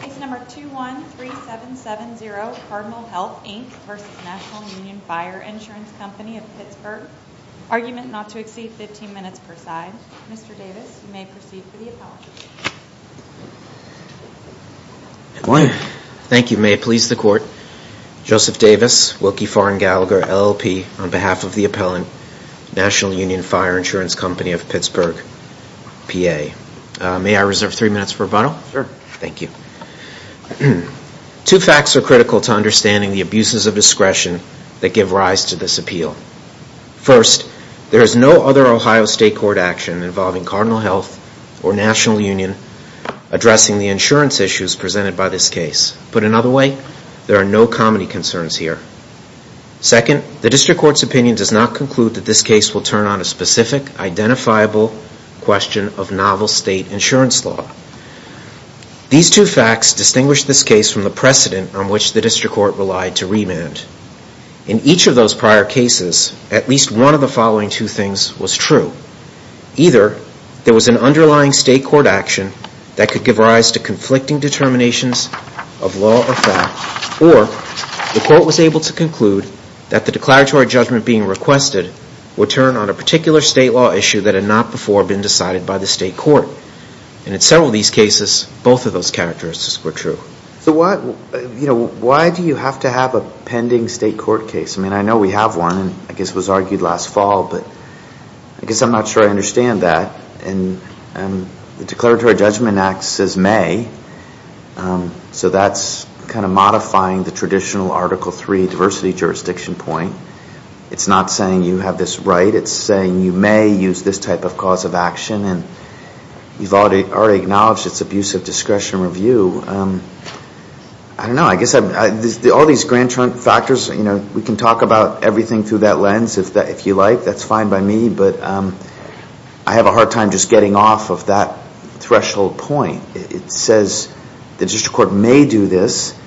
Case number 213770 Cardinal Health Inc v. National Union Fire Insurance Company of Pittsburgh. Argument not to exceed 15 minutes per side. Mr. Davis, you may proceed for the appellant. Thank you. May it please the court. Joseph Davis, Wilkie Farr and Gallagher, LLP, on behalf of the appellant, National Union Fire Insurance Company of Pittsburgh, PA. May I reserve three minutes for rebuttal? Sure. Thank you. Two facts are critical to understanding the abuses of discretion that give rise to this appeal. First, there is no other Ohio State Court action involving Cardinal Health or National Union addressing the insurance issues presented by this case. Put another way, there are no comedy concerns here. Second, the District will turn on a specific, identifiable question of novel state insurance law. These two facts distinguish this case from the precedent on which the District Court relied to remand. In each of those prior cases, at least one of the following two things was true. Either there was an underlying state court action that could give rise to conflicting determinations of law or fact, or the court was able to conclude that the declaratory judgment being requested would turn on a particular state law issue that had not before been decided by the state court. And in several of these cases, both of those characteristics were true. So why do you have to have a pending state court case? I mean, I know we have one, and I guess it was argued last fall, but I guess I'm not sure I understand that. And the Declaratory Judgment Act says may, so that's kind of modifying the traditional Article III diversity jurisdiction point. It's not saying you have this right. It's saying you may use this type of cause of action, and you've already acknowledged it's abuse of discretion review. I don't know. I guess all these grand factors, we can talk about everything through that lens if you like. That's fine by me, but I have a hard time just getting off of that threshold point. It says the district court may do this.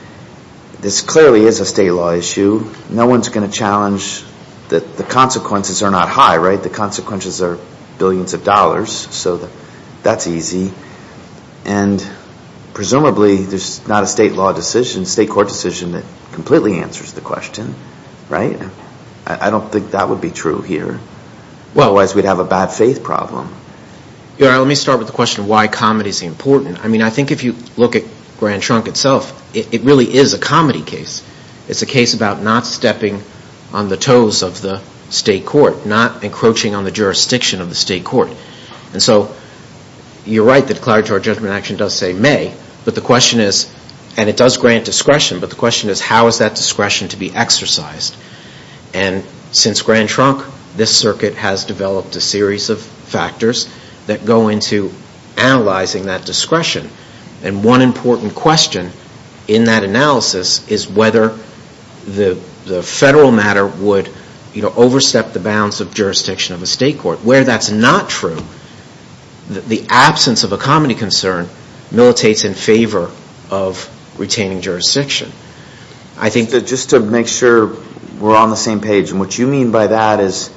This clearly is a state law issue. No one's going to challenge that the consequences are not high, right? The consequences are billions of dollars, so that's easy. And presumably, there's not a state law decision, state court decision that completely answers the question, right? I don't think that would be true here. Well, otherwise, we'd have a bad faith problem. Let me start with the question of why comedy is important. I mean, I think if you look at Grand Trunk itself, it really is a comedy case. It's a case about not stepping on the toes of the state court, not encroaching on the jurisdiction of the state court. And so you're right, the Declaratory Judgment Action does say may, but the question is, and it does grant discretion, but the question is how is that discretion to be exercised? And since Grand Trunk, this circuit has developed a series of factors that go into analyzing that discretion. And one important question in that analysis is whether the federal matter would overstep the bounds of jurisdiction of a state court. Where that's not true, the absence of a comedy concern militates in favor of retaining jurisdiction. I think that just to make sure we're on the same page, and what you mean by that is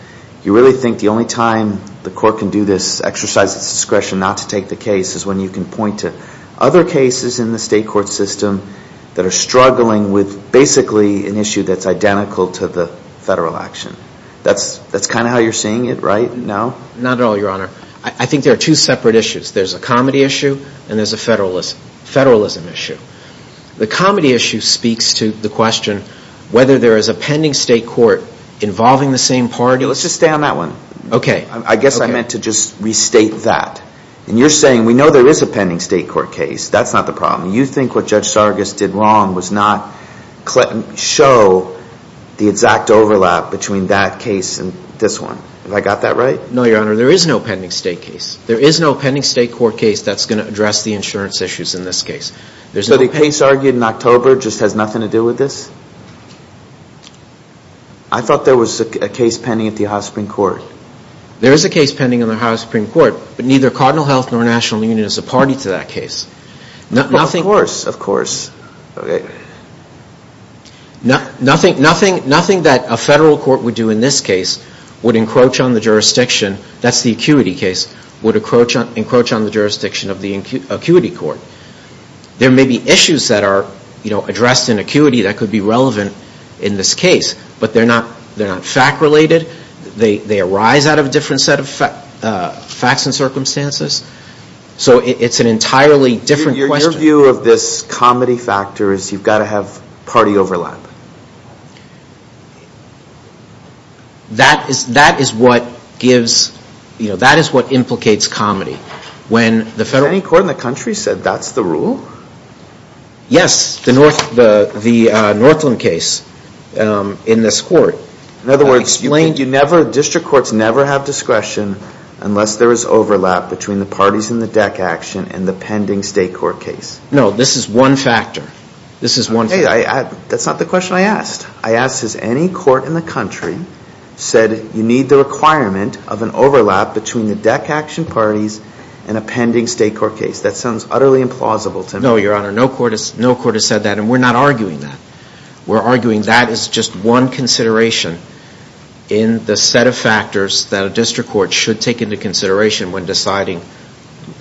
you really think the only time the court can do this exercise of discretion not to take the case is when you can point to other cases in the state court system that are struggling with basically an issue that's identical to the federal action. That's kind of how you're seeing it, right? No? Not at all, Your Honor. I think there are two separate issues. There's a comedy issue and there's a federalism issue. The comedy issue speaks to the question whether there is a pending state court involving the same party. Let's just stay on that one. Okay. I guess I meant to just restate that. And you're saying we know there is a pending state court case. That's not the problem. You think what Judge Sargas did wrong was not show the exact overlap between that case and this one. Have I got that right? No, Your Honor. There is no pending state case. There is no pending state court case that's going to address the insurance issues in this case. So the case argued in October just has nothing to do with this? No. I thought there was a case pending at the Ohio Supreme Court. There is a case pending on the Ohio Supreme Court, but neither Cardinal Health nor National Union is a party to that case. Of course. Of course. Okay. Nothing that a federal court would do in this case would encroach on the jurisdiction, that's the acuity case, would encroach on the jurisdiction of the acuity court. There may be issues that are addressed in acuity that could be relevant in this case, but they're not fact related. They arise out of a different set of facts and circumstances. So it's an entirely different question. Your view of this comedy factor is you've got to have party overlap. That is what gives, that is what implicates comedy. When the federal court... That's the rule? Yes. The Northland case in this court. In other words, you never, district courts never have discretion unless there is overlap between the parties in the deck action and the pending state court case. No. This is one factor. This is one factor. That's not the question I asked. I asked, has any court in the country said you need the requirement of an overlap between the deck action parties and a pending state court case? That sounds utterly implausible to me. No, Your Honor. No court has said that, and we're not arguing that. We're arguing that is just one consideration in the set of factors that a district court should take into consideration when deciding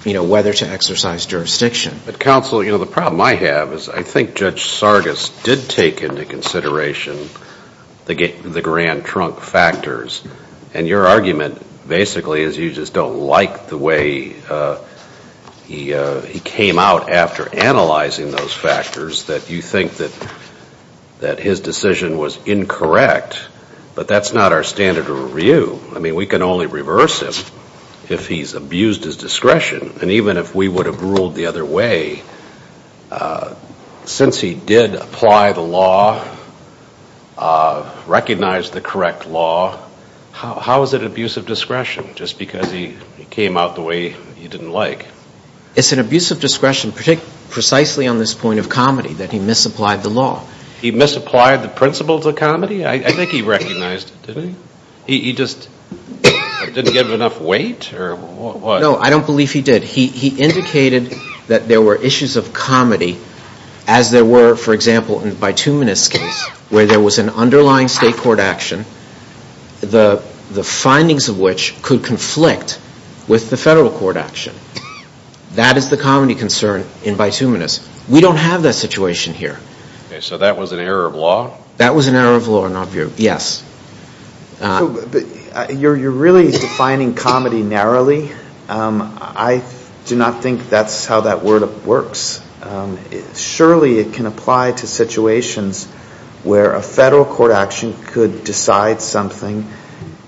whether to exercise jurisdiction. But counsel, the problem I have is I think Judge Sargas did take into consideration the grand trunk factors, and your argument basically is you just don't like the way he came out after analyzing those factors, that you think that his decision was incorrect. But that's not our standard of review. I mean, we can only reverse him if he's abused his discretion. And even if we would have ruled the other way, since he did apply the law, recognize the correct law, how is it abuse of discretion? Just because he came out the way he didn't like. It's an abuse of discretion precisely on this point of comedy, that he misapplied the law. He misapplied the principles of comedy? I think he recognized it, didn't he? He just didn't give enough weight, or what? No, I don't believe he did. He indicated that there were issues of comedy as there were, for example, in the bituminous case, where there was an underlying state court action, the findings of which could conflict with the federal court action. That is the comedy concern in bituminous. We don't have that situation here. So that was an error of law? That was an error of law, yes. You're really defining comedy narrowly. I do not think that's how that word works. Surely it can apply to situations where a federal court action could decide something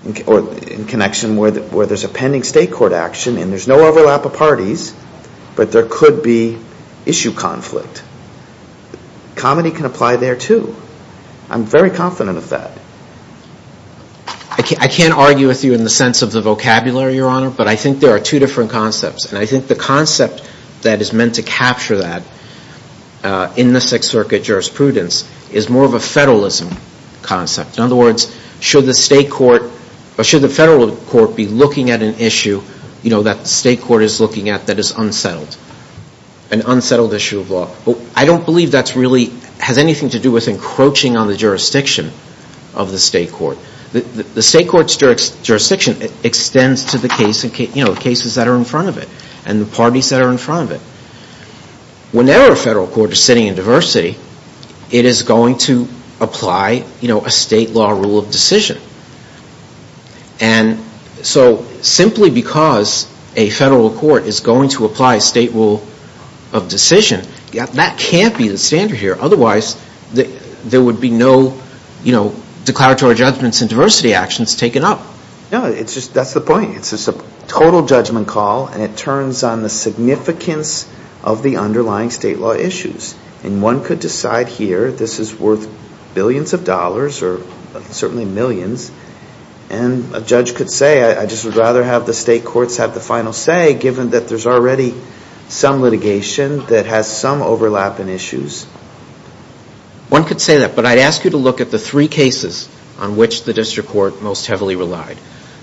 in connection where there's a pending state court action, and there's no overlap of parties, but there could be issue conflict. Comedy can apply there too. I'm very confident of that. I can't argue with you in the sense of the vocabulary, Your Honor, but I think there are two different concepts. And I think the concept that is meant to capture that in the Sixth Circuit jurisprudence is more of a federalism concept. In other words, should the federal court be looking at an issue that the state court is looking at that is unsettled, an unsettled issue of law? I don't believe that really has anything to do with encroaching on the jurisdiction of the state court. The state court's jurisdiction extends to the cases that are in front of it and the parties that are in front of it. Whenever a federal court is sitting in diversity, it is going to apply a state law rule of decision. And so simply because a federal court is going to apply a state rule of decision, that can't be the standard here. Otherwise, there would be no declaratory judgments and diversity actions taken up. No, that's the point. It's a total judgment call and it turns on the significance of the underlying state law issues. And one could decide here this is worth billions of dollars or certainly millions. And a judge could say, I just would rather have the state courts have the final say given that there's already some litigation that has some overlap in issues. One could say that. But I'd ask you to look at the three cases on which the district court most heavily relied.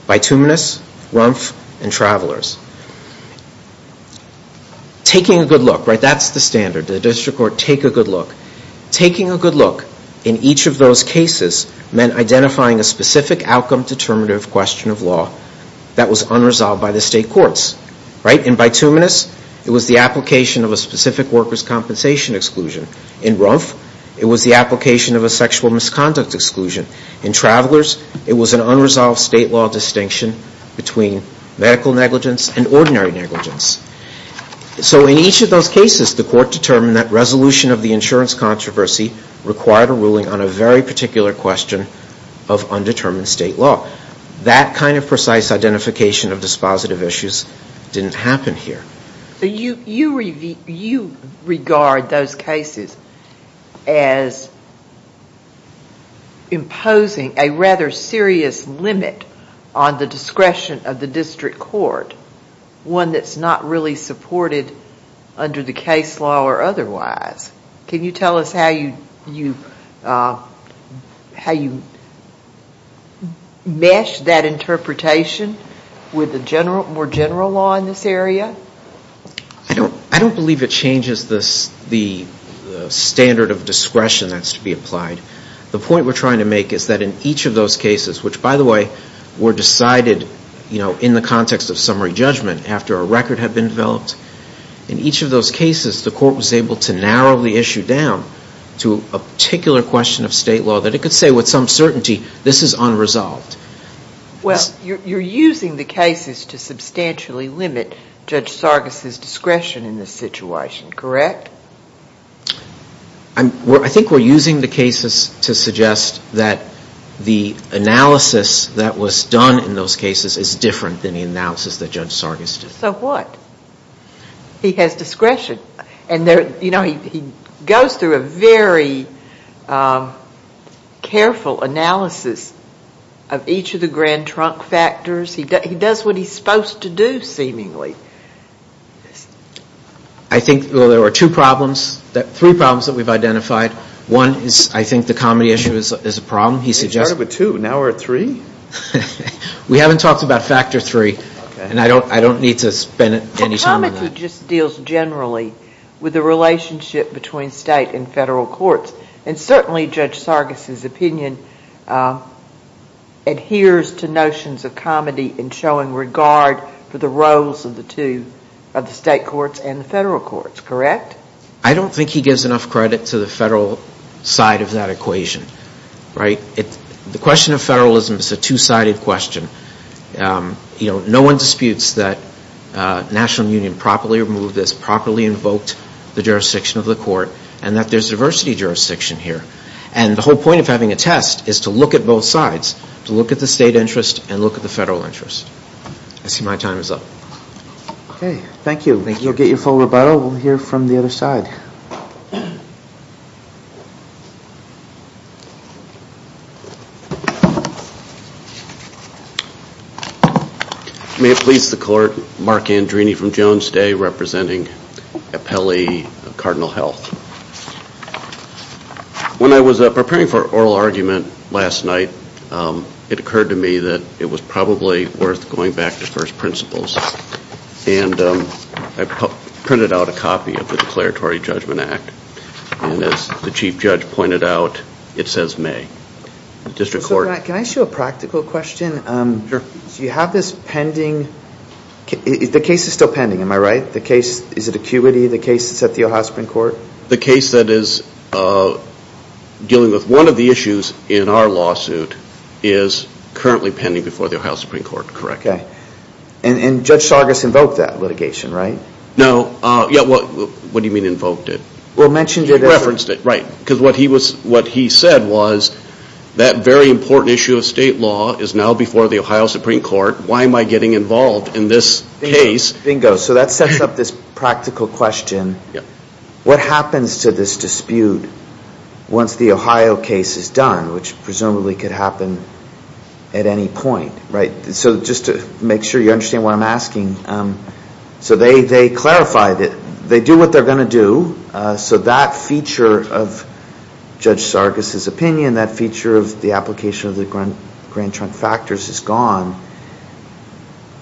Bituminous, Rumph, and Travelers. Taking a good look, right, that's the standard. The district court, take a good look. Taking a good look in each of those cases meant identifying a specific outcome determinative question of law that was unresolved by the state courts. In bituminous, it was the application of a specific workers' compensation exclusion. In Rumph, it was the application of a sexual misconduct exclusion. In Travelers, it was an unresolved state law distinction between medical negligence and ordinary negligence. So in each of those cases, the court determined that resolution of the insurance controversy required a ruling on a very particular question of undetermined state law. That kind of precise identification of dispositive issues didn't happen here. You regard those cases as imposing a rather serious limit on the discretion of the district court, one that's not really supported under the case law or otherwise. Can you tell us how you mesh that interpretation with the more general law in this area? I don't believe it changes the standard of discretion that's to be applied. The point we're trying to make is that in each of those cases, which, by the way, were decided, you know, in the context of summary judgment after a record had been developed. In each of those cases, the court was able to narrow the issue down to a particular question of state law that it could say with some certainty, this is unresolved. Well, you're using the cases to substantially limit Judge Sargis' discretion in this situation, correct? I think we're using the cases to suggest that the analysis that was done in those cases is different than the analysis that Judge Sargis did. So what? He has discretion. And there, you know, he goes through a very careful analysis of each of the grand trunk factors. He does what he's supposed to do, seemingly. I think, well, there were two problems, three problems that we've identified. One is, I think, the comedy issue is a problem, he suggests. We started with two, now we're at three. We haven't talked about factor three, and I don't need to spend any time on that. He just deals generally with the relationship between state and federal courts. And certainly, Judge Sargis' opinion adheres to notions of comedy in showing regard for the roles of the two, of the state courts and the federal courts, correct? I don't think he gives enough credit to the federal side of that equation, right? The question of federalism is a two-sided question. You know, no one disputes that National Union properly removed this, properly invoked the jurisdiction of the court, and that there's diversity jurisdiction here. And the whole point of having a test is to look at both sides, to look at the state interest and look at the federal interest. I see my time is up. Okay, thank you. Thank you. You'll get your full rebuttal. We'll hear from the other side. Thank you. May it please the court, Mark Andrini from Jones Day representing Appelli Cardinal Health. When I was preparing for oral argument last night, it occurred to me that it was probably worth going back to first principles. And I printed out a copy of the Declaratory Judgment Act. And as the chief judge pointed out, it says may. Can I ask you a practical question? Sure. Do you have this pending? The case is still pending, am I right? The case, is it acuity, the case that's at the Ohio Supreme Court? The case that is dealing with one of the issues in our lawsuit is currently pending before the Ohio Supreme Court, correct? And Judge Sargas invoked that litigation, right? No, what do you mean invoked it? Well, mentioned it. Referenced it, right. Because what he said was that very important issue of state law is now before the Ohio Supreme Court. Why am I getting involved in this case? Bingo. So that sets up this practical question. What happens to this dispute once the Ohio case is done, which presumably could happen at any point, right? So just to make sure you understand what I'm asking. So they clarified it. They do what they're going to do. So that feature of Judge Sargas' opinion, that feature of the application of the grand trunk factors is gone.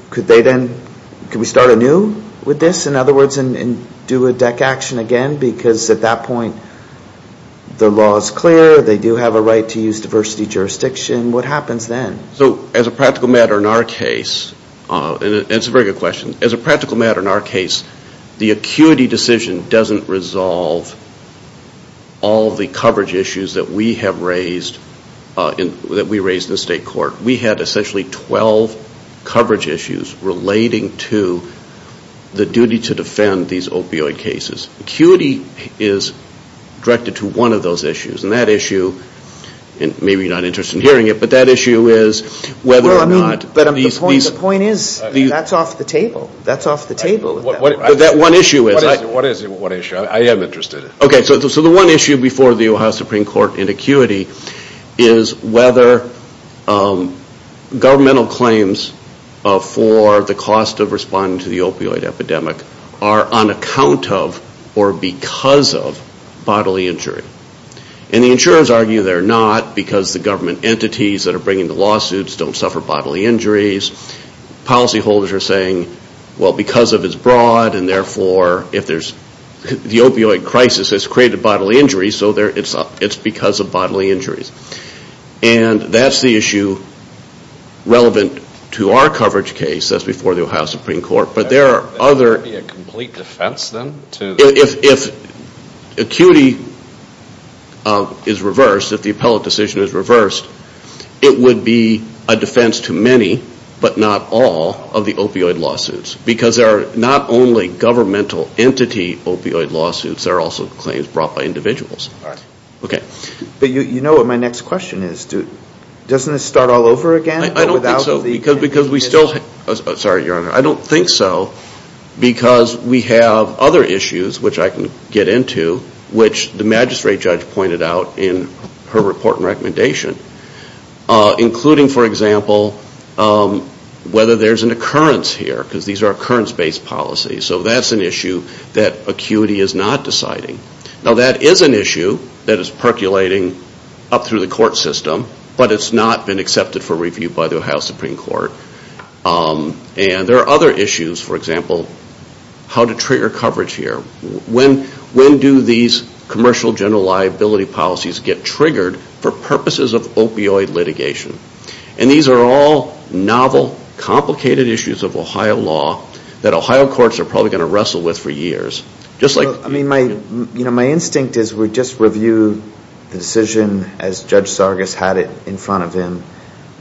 Could they then, could we start anew with this? In other words, and do a deck action again? Because at that point, the law is clear. They do have a right to use diversity jurisdiction. What happens then? So as a practical matter in our case, and it's a very good question. As a practical matter in our case, the acuity decision doesn't resolve all the coverage issues that we have raised, that we raised in the state court. We had essentially 12 coverage issues relating to the duty to defend these opioid cases. Acuity is directed to one of those issues. And that issue, and maybe you're not interested in hearing it, but that issue is whether or not... Well, I mean, but the point is, that's off the table. That's off the table at that point. But that one issue is... What is it, what issue? I am interested. Okay, so the one issue before the Ohio Supreme Court in acuity is whether governmental claims for the cost of responding to the opioid epidemic are on account of or because of bodily injury. And the insurers argue they're not because the government entities that are bringing the lawsuits don't suffer bodily injuries. Policyholders are saying, well, because of its broad and therefore if there's... The opioid crisis has created bodily injuries, so it's because of bodily injuries. And that's the issue relevant to our coverage case. That's before the Ohio Supreme Court. But there are other... That would be a complete defense then to... If acuity is reversed, if the appellate decision is reversed, it would be a defense to many, but not all, of the opioid lawsuits. Because there are not only governmental entity opioid lawsuits, there are also claims brought by individuals. All right. Okay. But you know what my next question is. Doesn't it start all over again? I don't think so, because we still... Sorry, Your Honor. I don't think so, because we have other issues which I can get into, which the magistrate judge pointed out in her report and recommendation. Including, for example, whether there's an occurrence here, because these are occurrence-based policies. So that's an issue that acuity is not deciding. Now, that is an issue that is percolating up through the court system, but it's not been accepted for review by the Ohio Supreme Court. And there are other issues. For example, how to trigger coverage here. When do these commercial general liability policies get triggered for purposes of opioid litigation? And these are all novel, complicated issues of Ohio law that Ohio courts are probably going to wrestle with for years. Just like... I mean, my instinct is we just review the decision as Judge Sargas had it in front of him.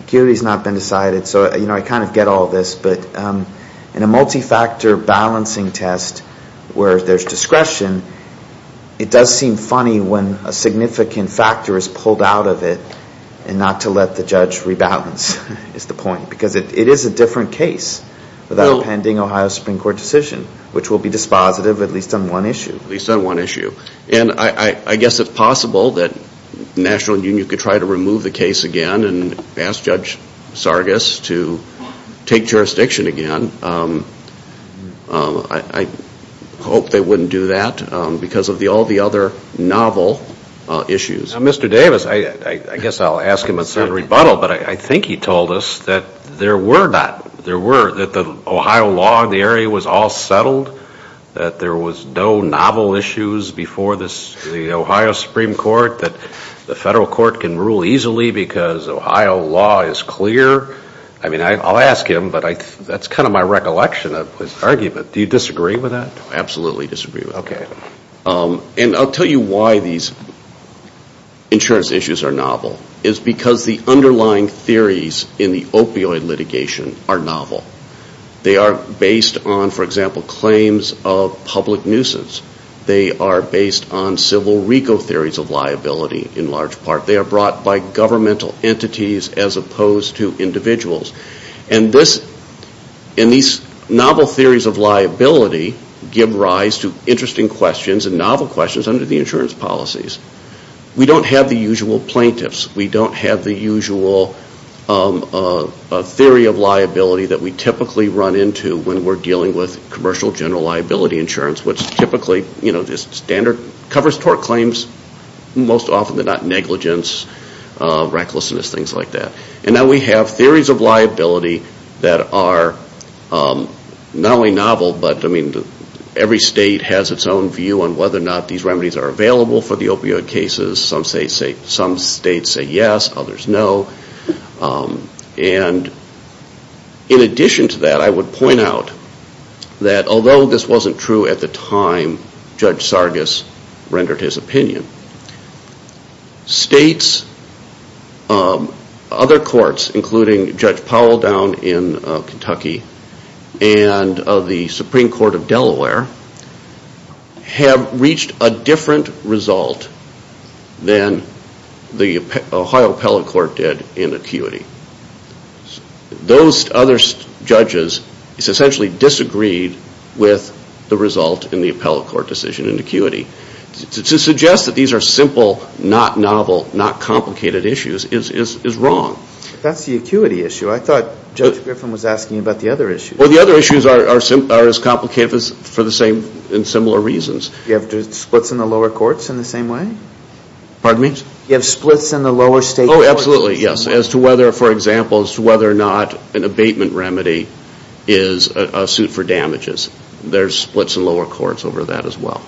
Acuity has not been decided. So I kind of get all this. But in a multi-factor balancing test where there's discretion, it does seem funny when a significant factor is pulled out of it and not to let the judge rebalance is the point. Because it is a different case without a pending Ohio Supreme Court decision, which will be dispositive at least on one issue. At least on one issue. And I guess it's possible that the National Union could try to remove the case again and ask Judge Sargas to take jurisdiction again. I hope they wouldn't do that because of all the other novel issues. Now, Mr. Davis, I guess I'll ask him a certain rebuttal. But I think he told us that there were not... There were... That the Ohio law in the area was all settled. That there was no novel issues before the Ohio Supreme Court. The federal court can rule easily because Ohio law is clear. I mean, I'll ask him. But that's kind of my recollection of his argument. Do you disagree with that? Absolutely disagree with it. Okay. And I'll tell you why these insurance issues are novel. It's because the underlying theories in the opioid litigation are novel. They are based on, for example, claims of public nuisance. They are based on civil RICO theories of liability in large part. They are brought by governmental entities as opposed to individuals. And this... And these novel theories of liability give rise to interesting questions and novel questions under the insurance policies. We don't have the usual plaintiffs. We don't have the usual theory of liability that we typically run into when we're dealing with commercial general liability insurance. Which typically, you know, this standard covers tort claims. Most often they're not negligence, recklessness, things like that. And now we have theories of liability that are not only novel, but I mean, every state has its own view on whether or not these remedies are available for the opioid cases. Some states say yes, others no. And in addition to that, I would point out that although this wasn't true at the time Judge Sargis rendered his opinion, states, other courts, including Judge Powell down in Kentucky and the Supreme Court of Delaware have reached a different result than the Ohio appellate court did in acuity. Those other judges essentially disagreed with the result in the appellate court decision in acuity. To suggest that these are simple, not novel, not complicated issues is wrong. That's the acuity issue. I thought Judge Griffin was asking about the other issues. Well, the other issues are as complicated for the same and similar reasons. You have splits in the lower courts in the same way? Pardon me? You have splits in the lower state courts? Absolutely, yes. As to whether, for example, as to whether or not an abatement remedy is a suit for damages. There's splits in lower courts over that as well.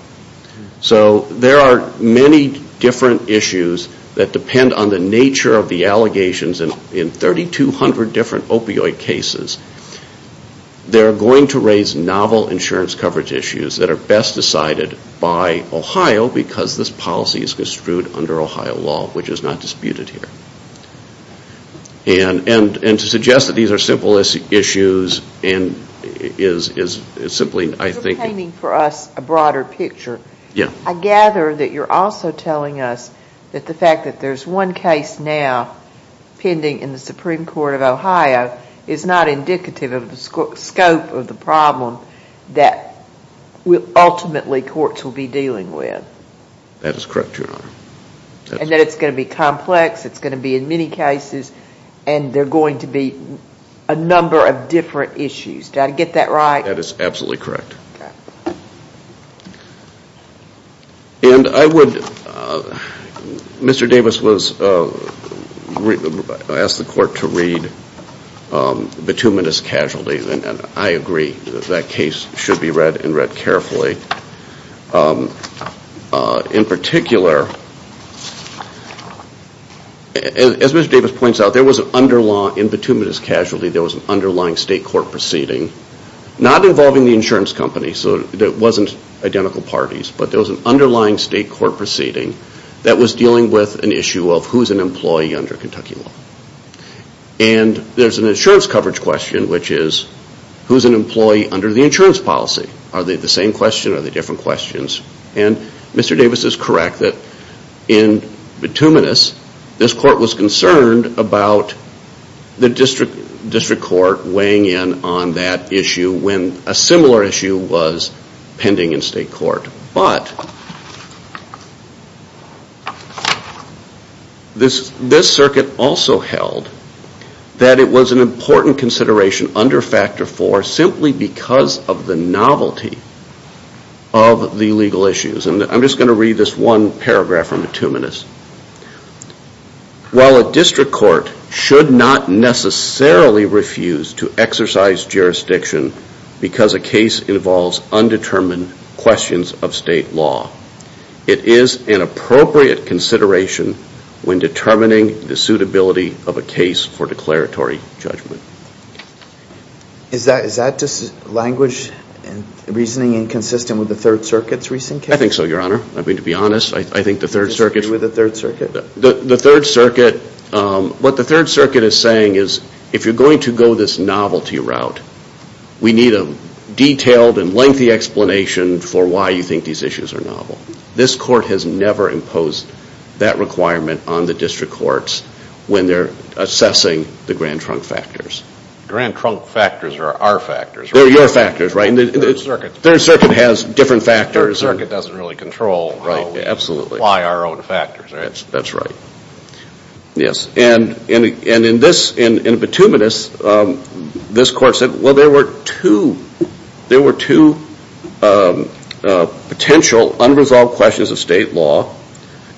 So there are many different issues that depend on the nature of the allegations in 3,200 different opioid cases. They're going to raise novel insurance coverage issues that are best decided by Ohio because this policy is construed under Ohio law, which is not disputed here. And to suggest that these are simple issues is simply, I think... You're painting for us a broader picture. Yeah. I gather that you're also telling us that the fact that there's one case now pending in the Supreme Court of Ohio is not indicative of the scope of the problem that ultimately courts will be dealing with. That is correct, Your Honor. And that it's going to be complex, it's going to be in many cases, and there are going to be a number of different issues. Do I get that right? That is absolutely correct. And I would... Mr. Davis asked the court to read bituminous casualties, and I agree that that case should be read and read carefully. In particular, as Mr. Davis points out, there was an underlying, in bituminous casualty, there was an underlying state court proceeding, not involving the insurance company, so it wasn't identical parties, but there was an underlying state court proceeding that was dealing with an issue of who's an employee under Kentucky law. And there's an insurance coverage question, which is who's an employee under the insurance policy? Are they the same question or are they different questions? And Mr. Davis is correct that in bituminous, this court was concerned about the district court weighing in on that issue when a similar issue was pending in state court. But this circuit also held that it was an important consideration under factor four simply because of the novelty of the legal issues. And I'm just going to read this one paragraph from the bituminous. While a district court should not necessarily refuse to exercise jurisdiction because a case involves undetermined questions of state law, it is an appropriate consideration when determining the suitability of a case for declaratory judgment. Is that just language and reasoning inconsistent with the third circuit's recent case? I think so, your honor. I mean, to be honest, I think the third circuit... Consistent with the third circuit? The third circuit, what the third circuit is saying is if you're going to go this novelty route, we need a detailed and lengthy explanation for why you think these issues are novel. This court has never imposed that requirement on the district courts when they're assessing the grand trunk factors. Grand trunk factors are our factors, right? They're your factors, right? And the third circuit... Third circuit has different factors. Third circuit doesn't really control why our own factors, right? That's right. Yes, and in the bituminous, this court said, well, there were two potential unresolved questions of state law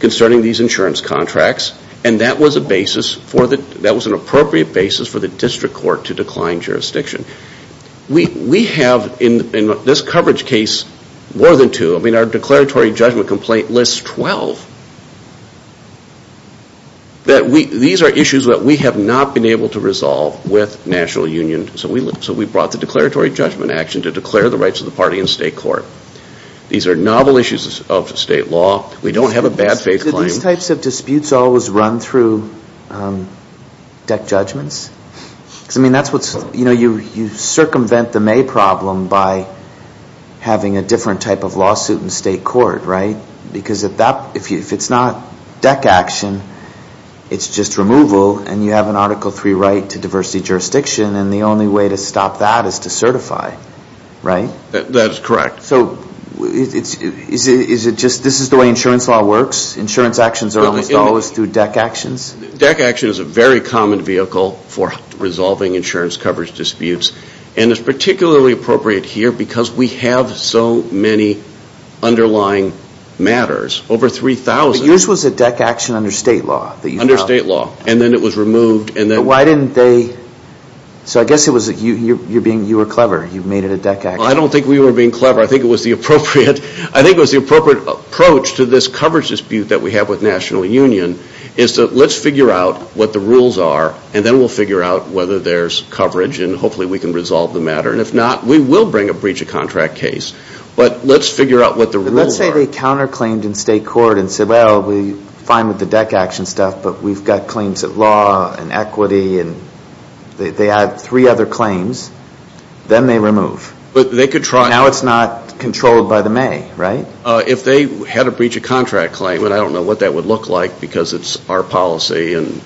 concerning these insurance contracts. And that was an appropriate basis for the district court to decline jurisdiction. We have in this coverage case more than two. I mean, our declaratory judgment complaint lists 12. These are issues that we have not been able to resolve with national union. So we brought the declaratory judgment action to declare the rights of the party in state court. These are novel issues of state law. We don't have a bad faith claim. These types of disputes always run through deck judgments. Because, I mean, that's what's... You know, you circumvent the May problem by having a different type of lawsuit in state court, right? Because if it's not deck action, it's just removal. And you have an Article III right to diversity jurisdiction. And the only way to stop that is to certify, right? That is correct. So is it just... This is the way insurance law works. Insurance actions are almost always through deck actions. Deck action is a very common vehicle for resolving insurance coverage disputes. And it's particularly appropriate here because we have so many underlying matters. Over 3,000... Yours was a deck action under state law. Under state law. And then it was removed and then... Why didn't they... So I guess it was that you were clever. You made it a deck action. I don't think we were being clever. I think it was the appropriate... National Union is to... Let's figure out what the rules are and then we'll figure out whether there's coverage and hopefully we can resolve the matter. And if not, we will bring a breach of contract case. But let's figure out what the rules are. Let's say they counter claimed in state court and said, well, we're fine with the deck action stuff but we've got claims at law and equity and they add three other claims, then they remove. But they could try... Now it's not controlled by the May, right? If they had a breach of contract claim and I don't know what that would look like because it's our policy and...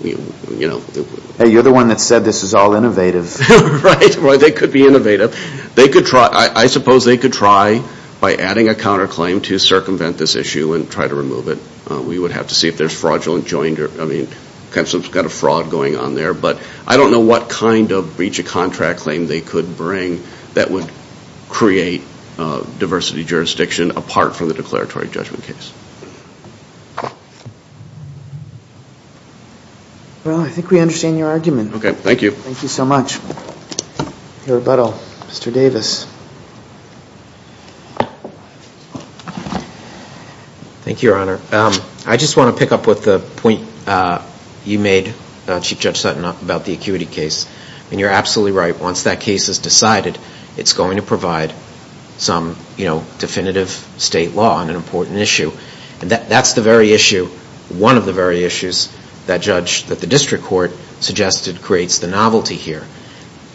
Hey, you're the one that said this is all innovative. Right, well, they could be innovative. They could try... I suppose they could try by adding a counter claim to circumvent this issue and try to remove it. We would have to see if there's fraudulent joined or... I mean, kind of fraud going on there. But I don't know what kind of breach of contract claim they could bring that would create diversity jurisdiction apart from the declaratory judgment case. Well, I think we understand your argument. Okay, thank you. Thank you so much. Your rebuttal, Mr. Davis. Thank you, Your Honor. I just want to pick up with the point you made, Chief Judge Sutton, about the acuity case. And you're absolutely right. Once that case is decided, it's going to provide some definitive state law on an important issue. That's the very issue, one of the very issues, that the district court suggested creates the novelty here.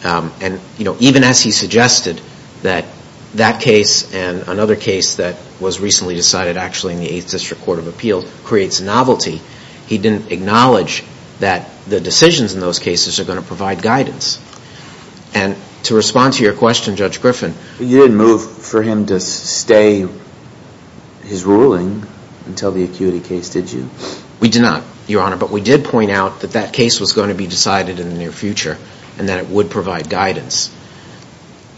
And even as he suggested that that case and another case that was recently decided, actually, in the 8th District Court of Appeal, creates novelty, he didn't acknowledge that the decisions in those cases are going to provide guidance. And to respond to your question, Judge Griffin... You didn't move for him to stay his ruling until the acuity case, did you? We did not, Your Honor. But we did point out that that case was going to be decided in the near future and that it would provide guidance.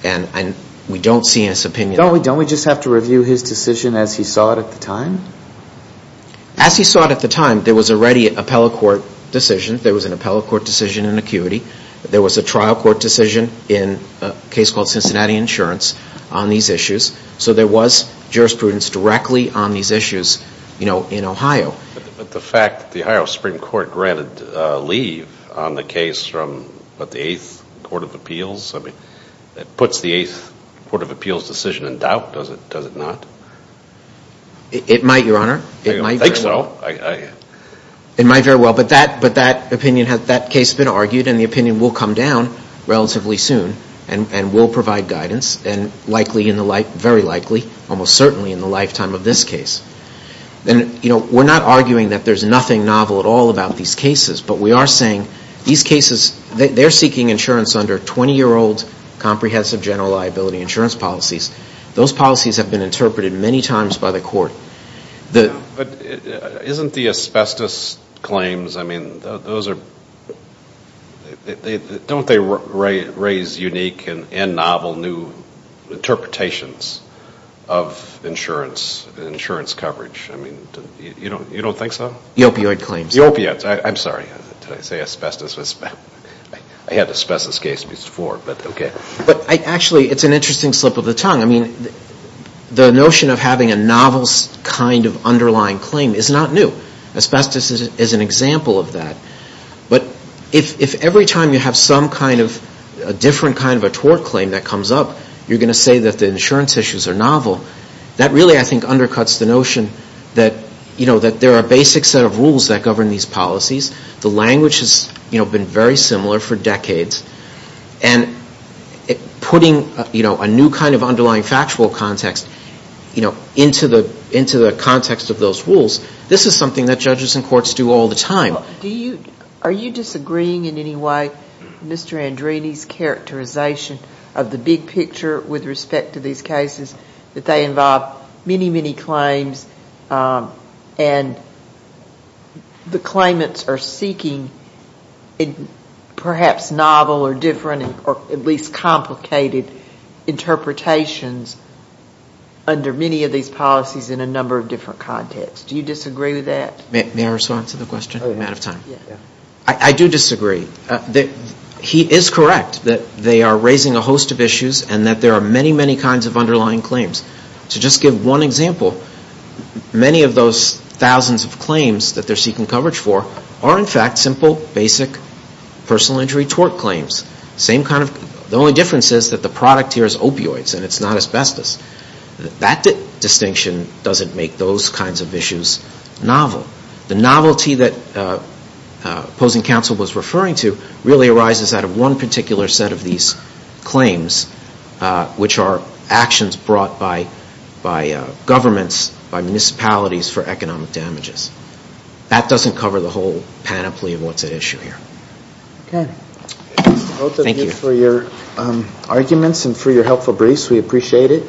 And we don't see in his opinion... Don't we just have to review his decision as he saw it at the time? As he saw it at the time, there was already an appellate court decision. There was an appellate court decision in acuity. There was a trial court decision in a case called Cincinnati Insurance on these issues. So there was jurisprudence directly on these issues in Ohio. But the fact that the Ohio Supreme Court granted leave on the case from the 8th Court of Appeals, that puts the 8th Court of Appeals decision in doubt, does it not? It might, Your Honor. It might very well. It might very well. But that opinion, that case has been argued and the opinion will come down relatively soon and will provide guidance and likely, very likely, almost certainly in the lifetime of this case. And we're not arguing that there's nothing novel at all about these cases, but we are saying these cases, they're seeking insurance under 20-year-old comprehensive general liability insurance policies. Those policies have been interpreted many times by the court. But isn't the asbestos claims, I mean, those are, don't they raise unique and novel new interpretations of insurance coverage? I mean, you don't think so? The opioid claims. The opiates. I'm sorry, did I say asbestos? I had the asbestos case before, but okay. But actually, it's an interesting slip of the tongue. I mean, the notion of having a novel kind of underlying claim is not new. Asbestos is an example of that. But if every time you have some kind of a different kind of a tort claim that comes up, you're going to say that the insurance issues are novel. That really, I think, undercuts the notion that there are basic set of rules that govern these policies. The language has been very similar for decades. And putting a new kind of underlying factual context into the context of those rules, this is something that judges and courts do all the time. Do you, are you disagreeing in any way, Mr. Andrini's characterization of the big picture with respect to these cases, that they involve many, many claims and the claimants are seeking perhaps novel or different or at least complicated interpretations under many of these policies in a number of different contexts. Do you disagree with that? May I respond to the question? I'm out of time. I do disagree. He is correct that they are raising a host of issues and that there are many, many kinds of underlying claims. To just give one example, many of those thousands of claims that they're seeking coverage for are in fact simple, basic personal injury tort claims. Same kind of, the only difference is that the product here is opioids and it's not asbestos. That distinction doesn't make those kinds of issues novel. The novelty that opposing counsel was referring to really arises out of one particular set of these claims, which are actions brought by governments, by municipalities for economic damages. That doesn't cover the whole panoply of what's at issue here. Okay. Both of you for your arguments and for your helpful briefs, we appreciate it.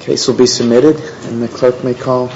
Case will be submitted and the clerk may call.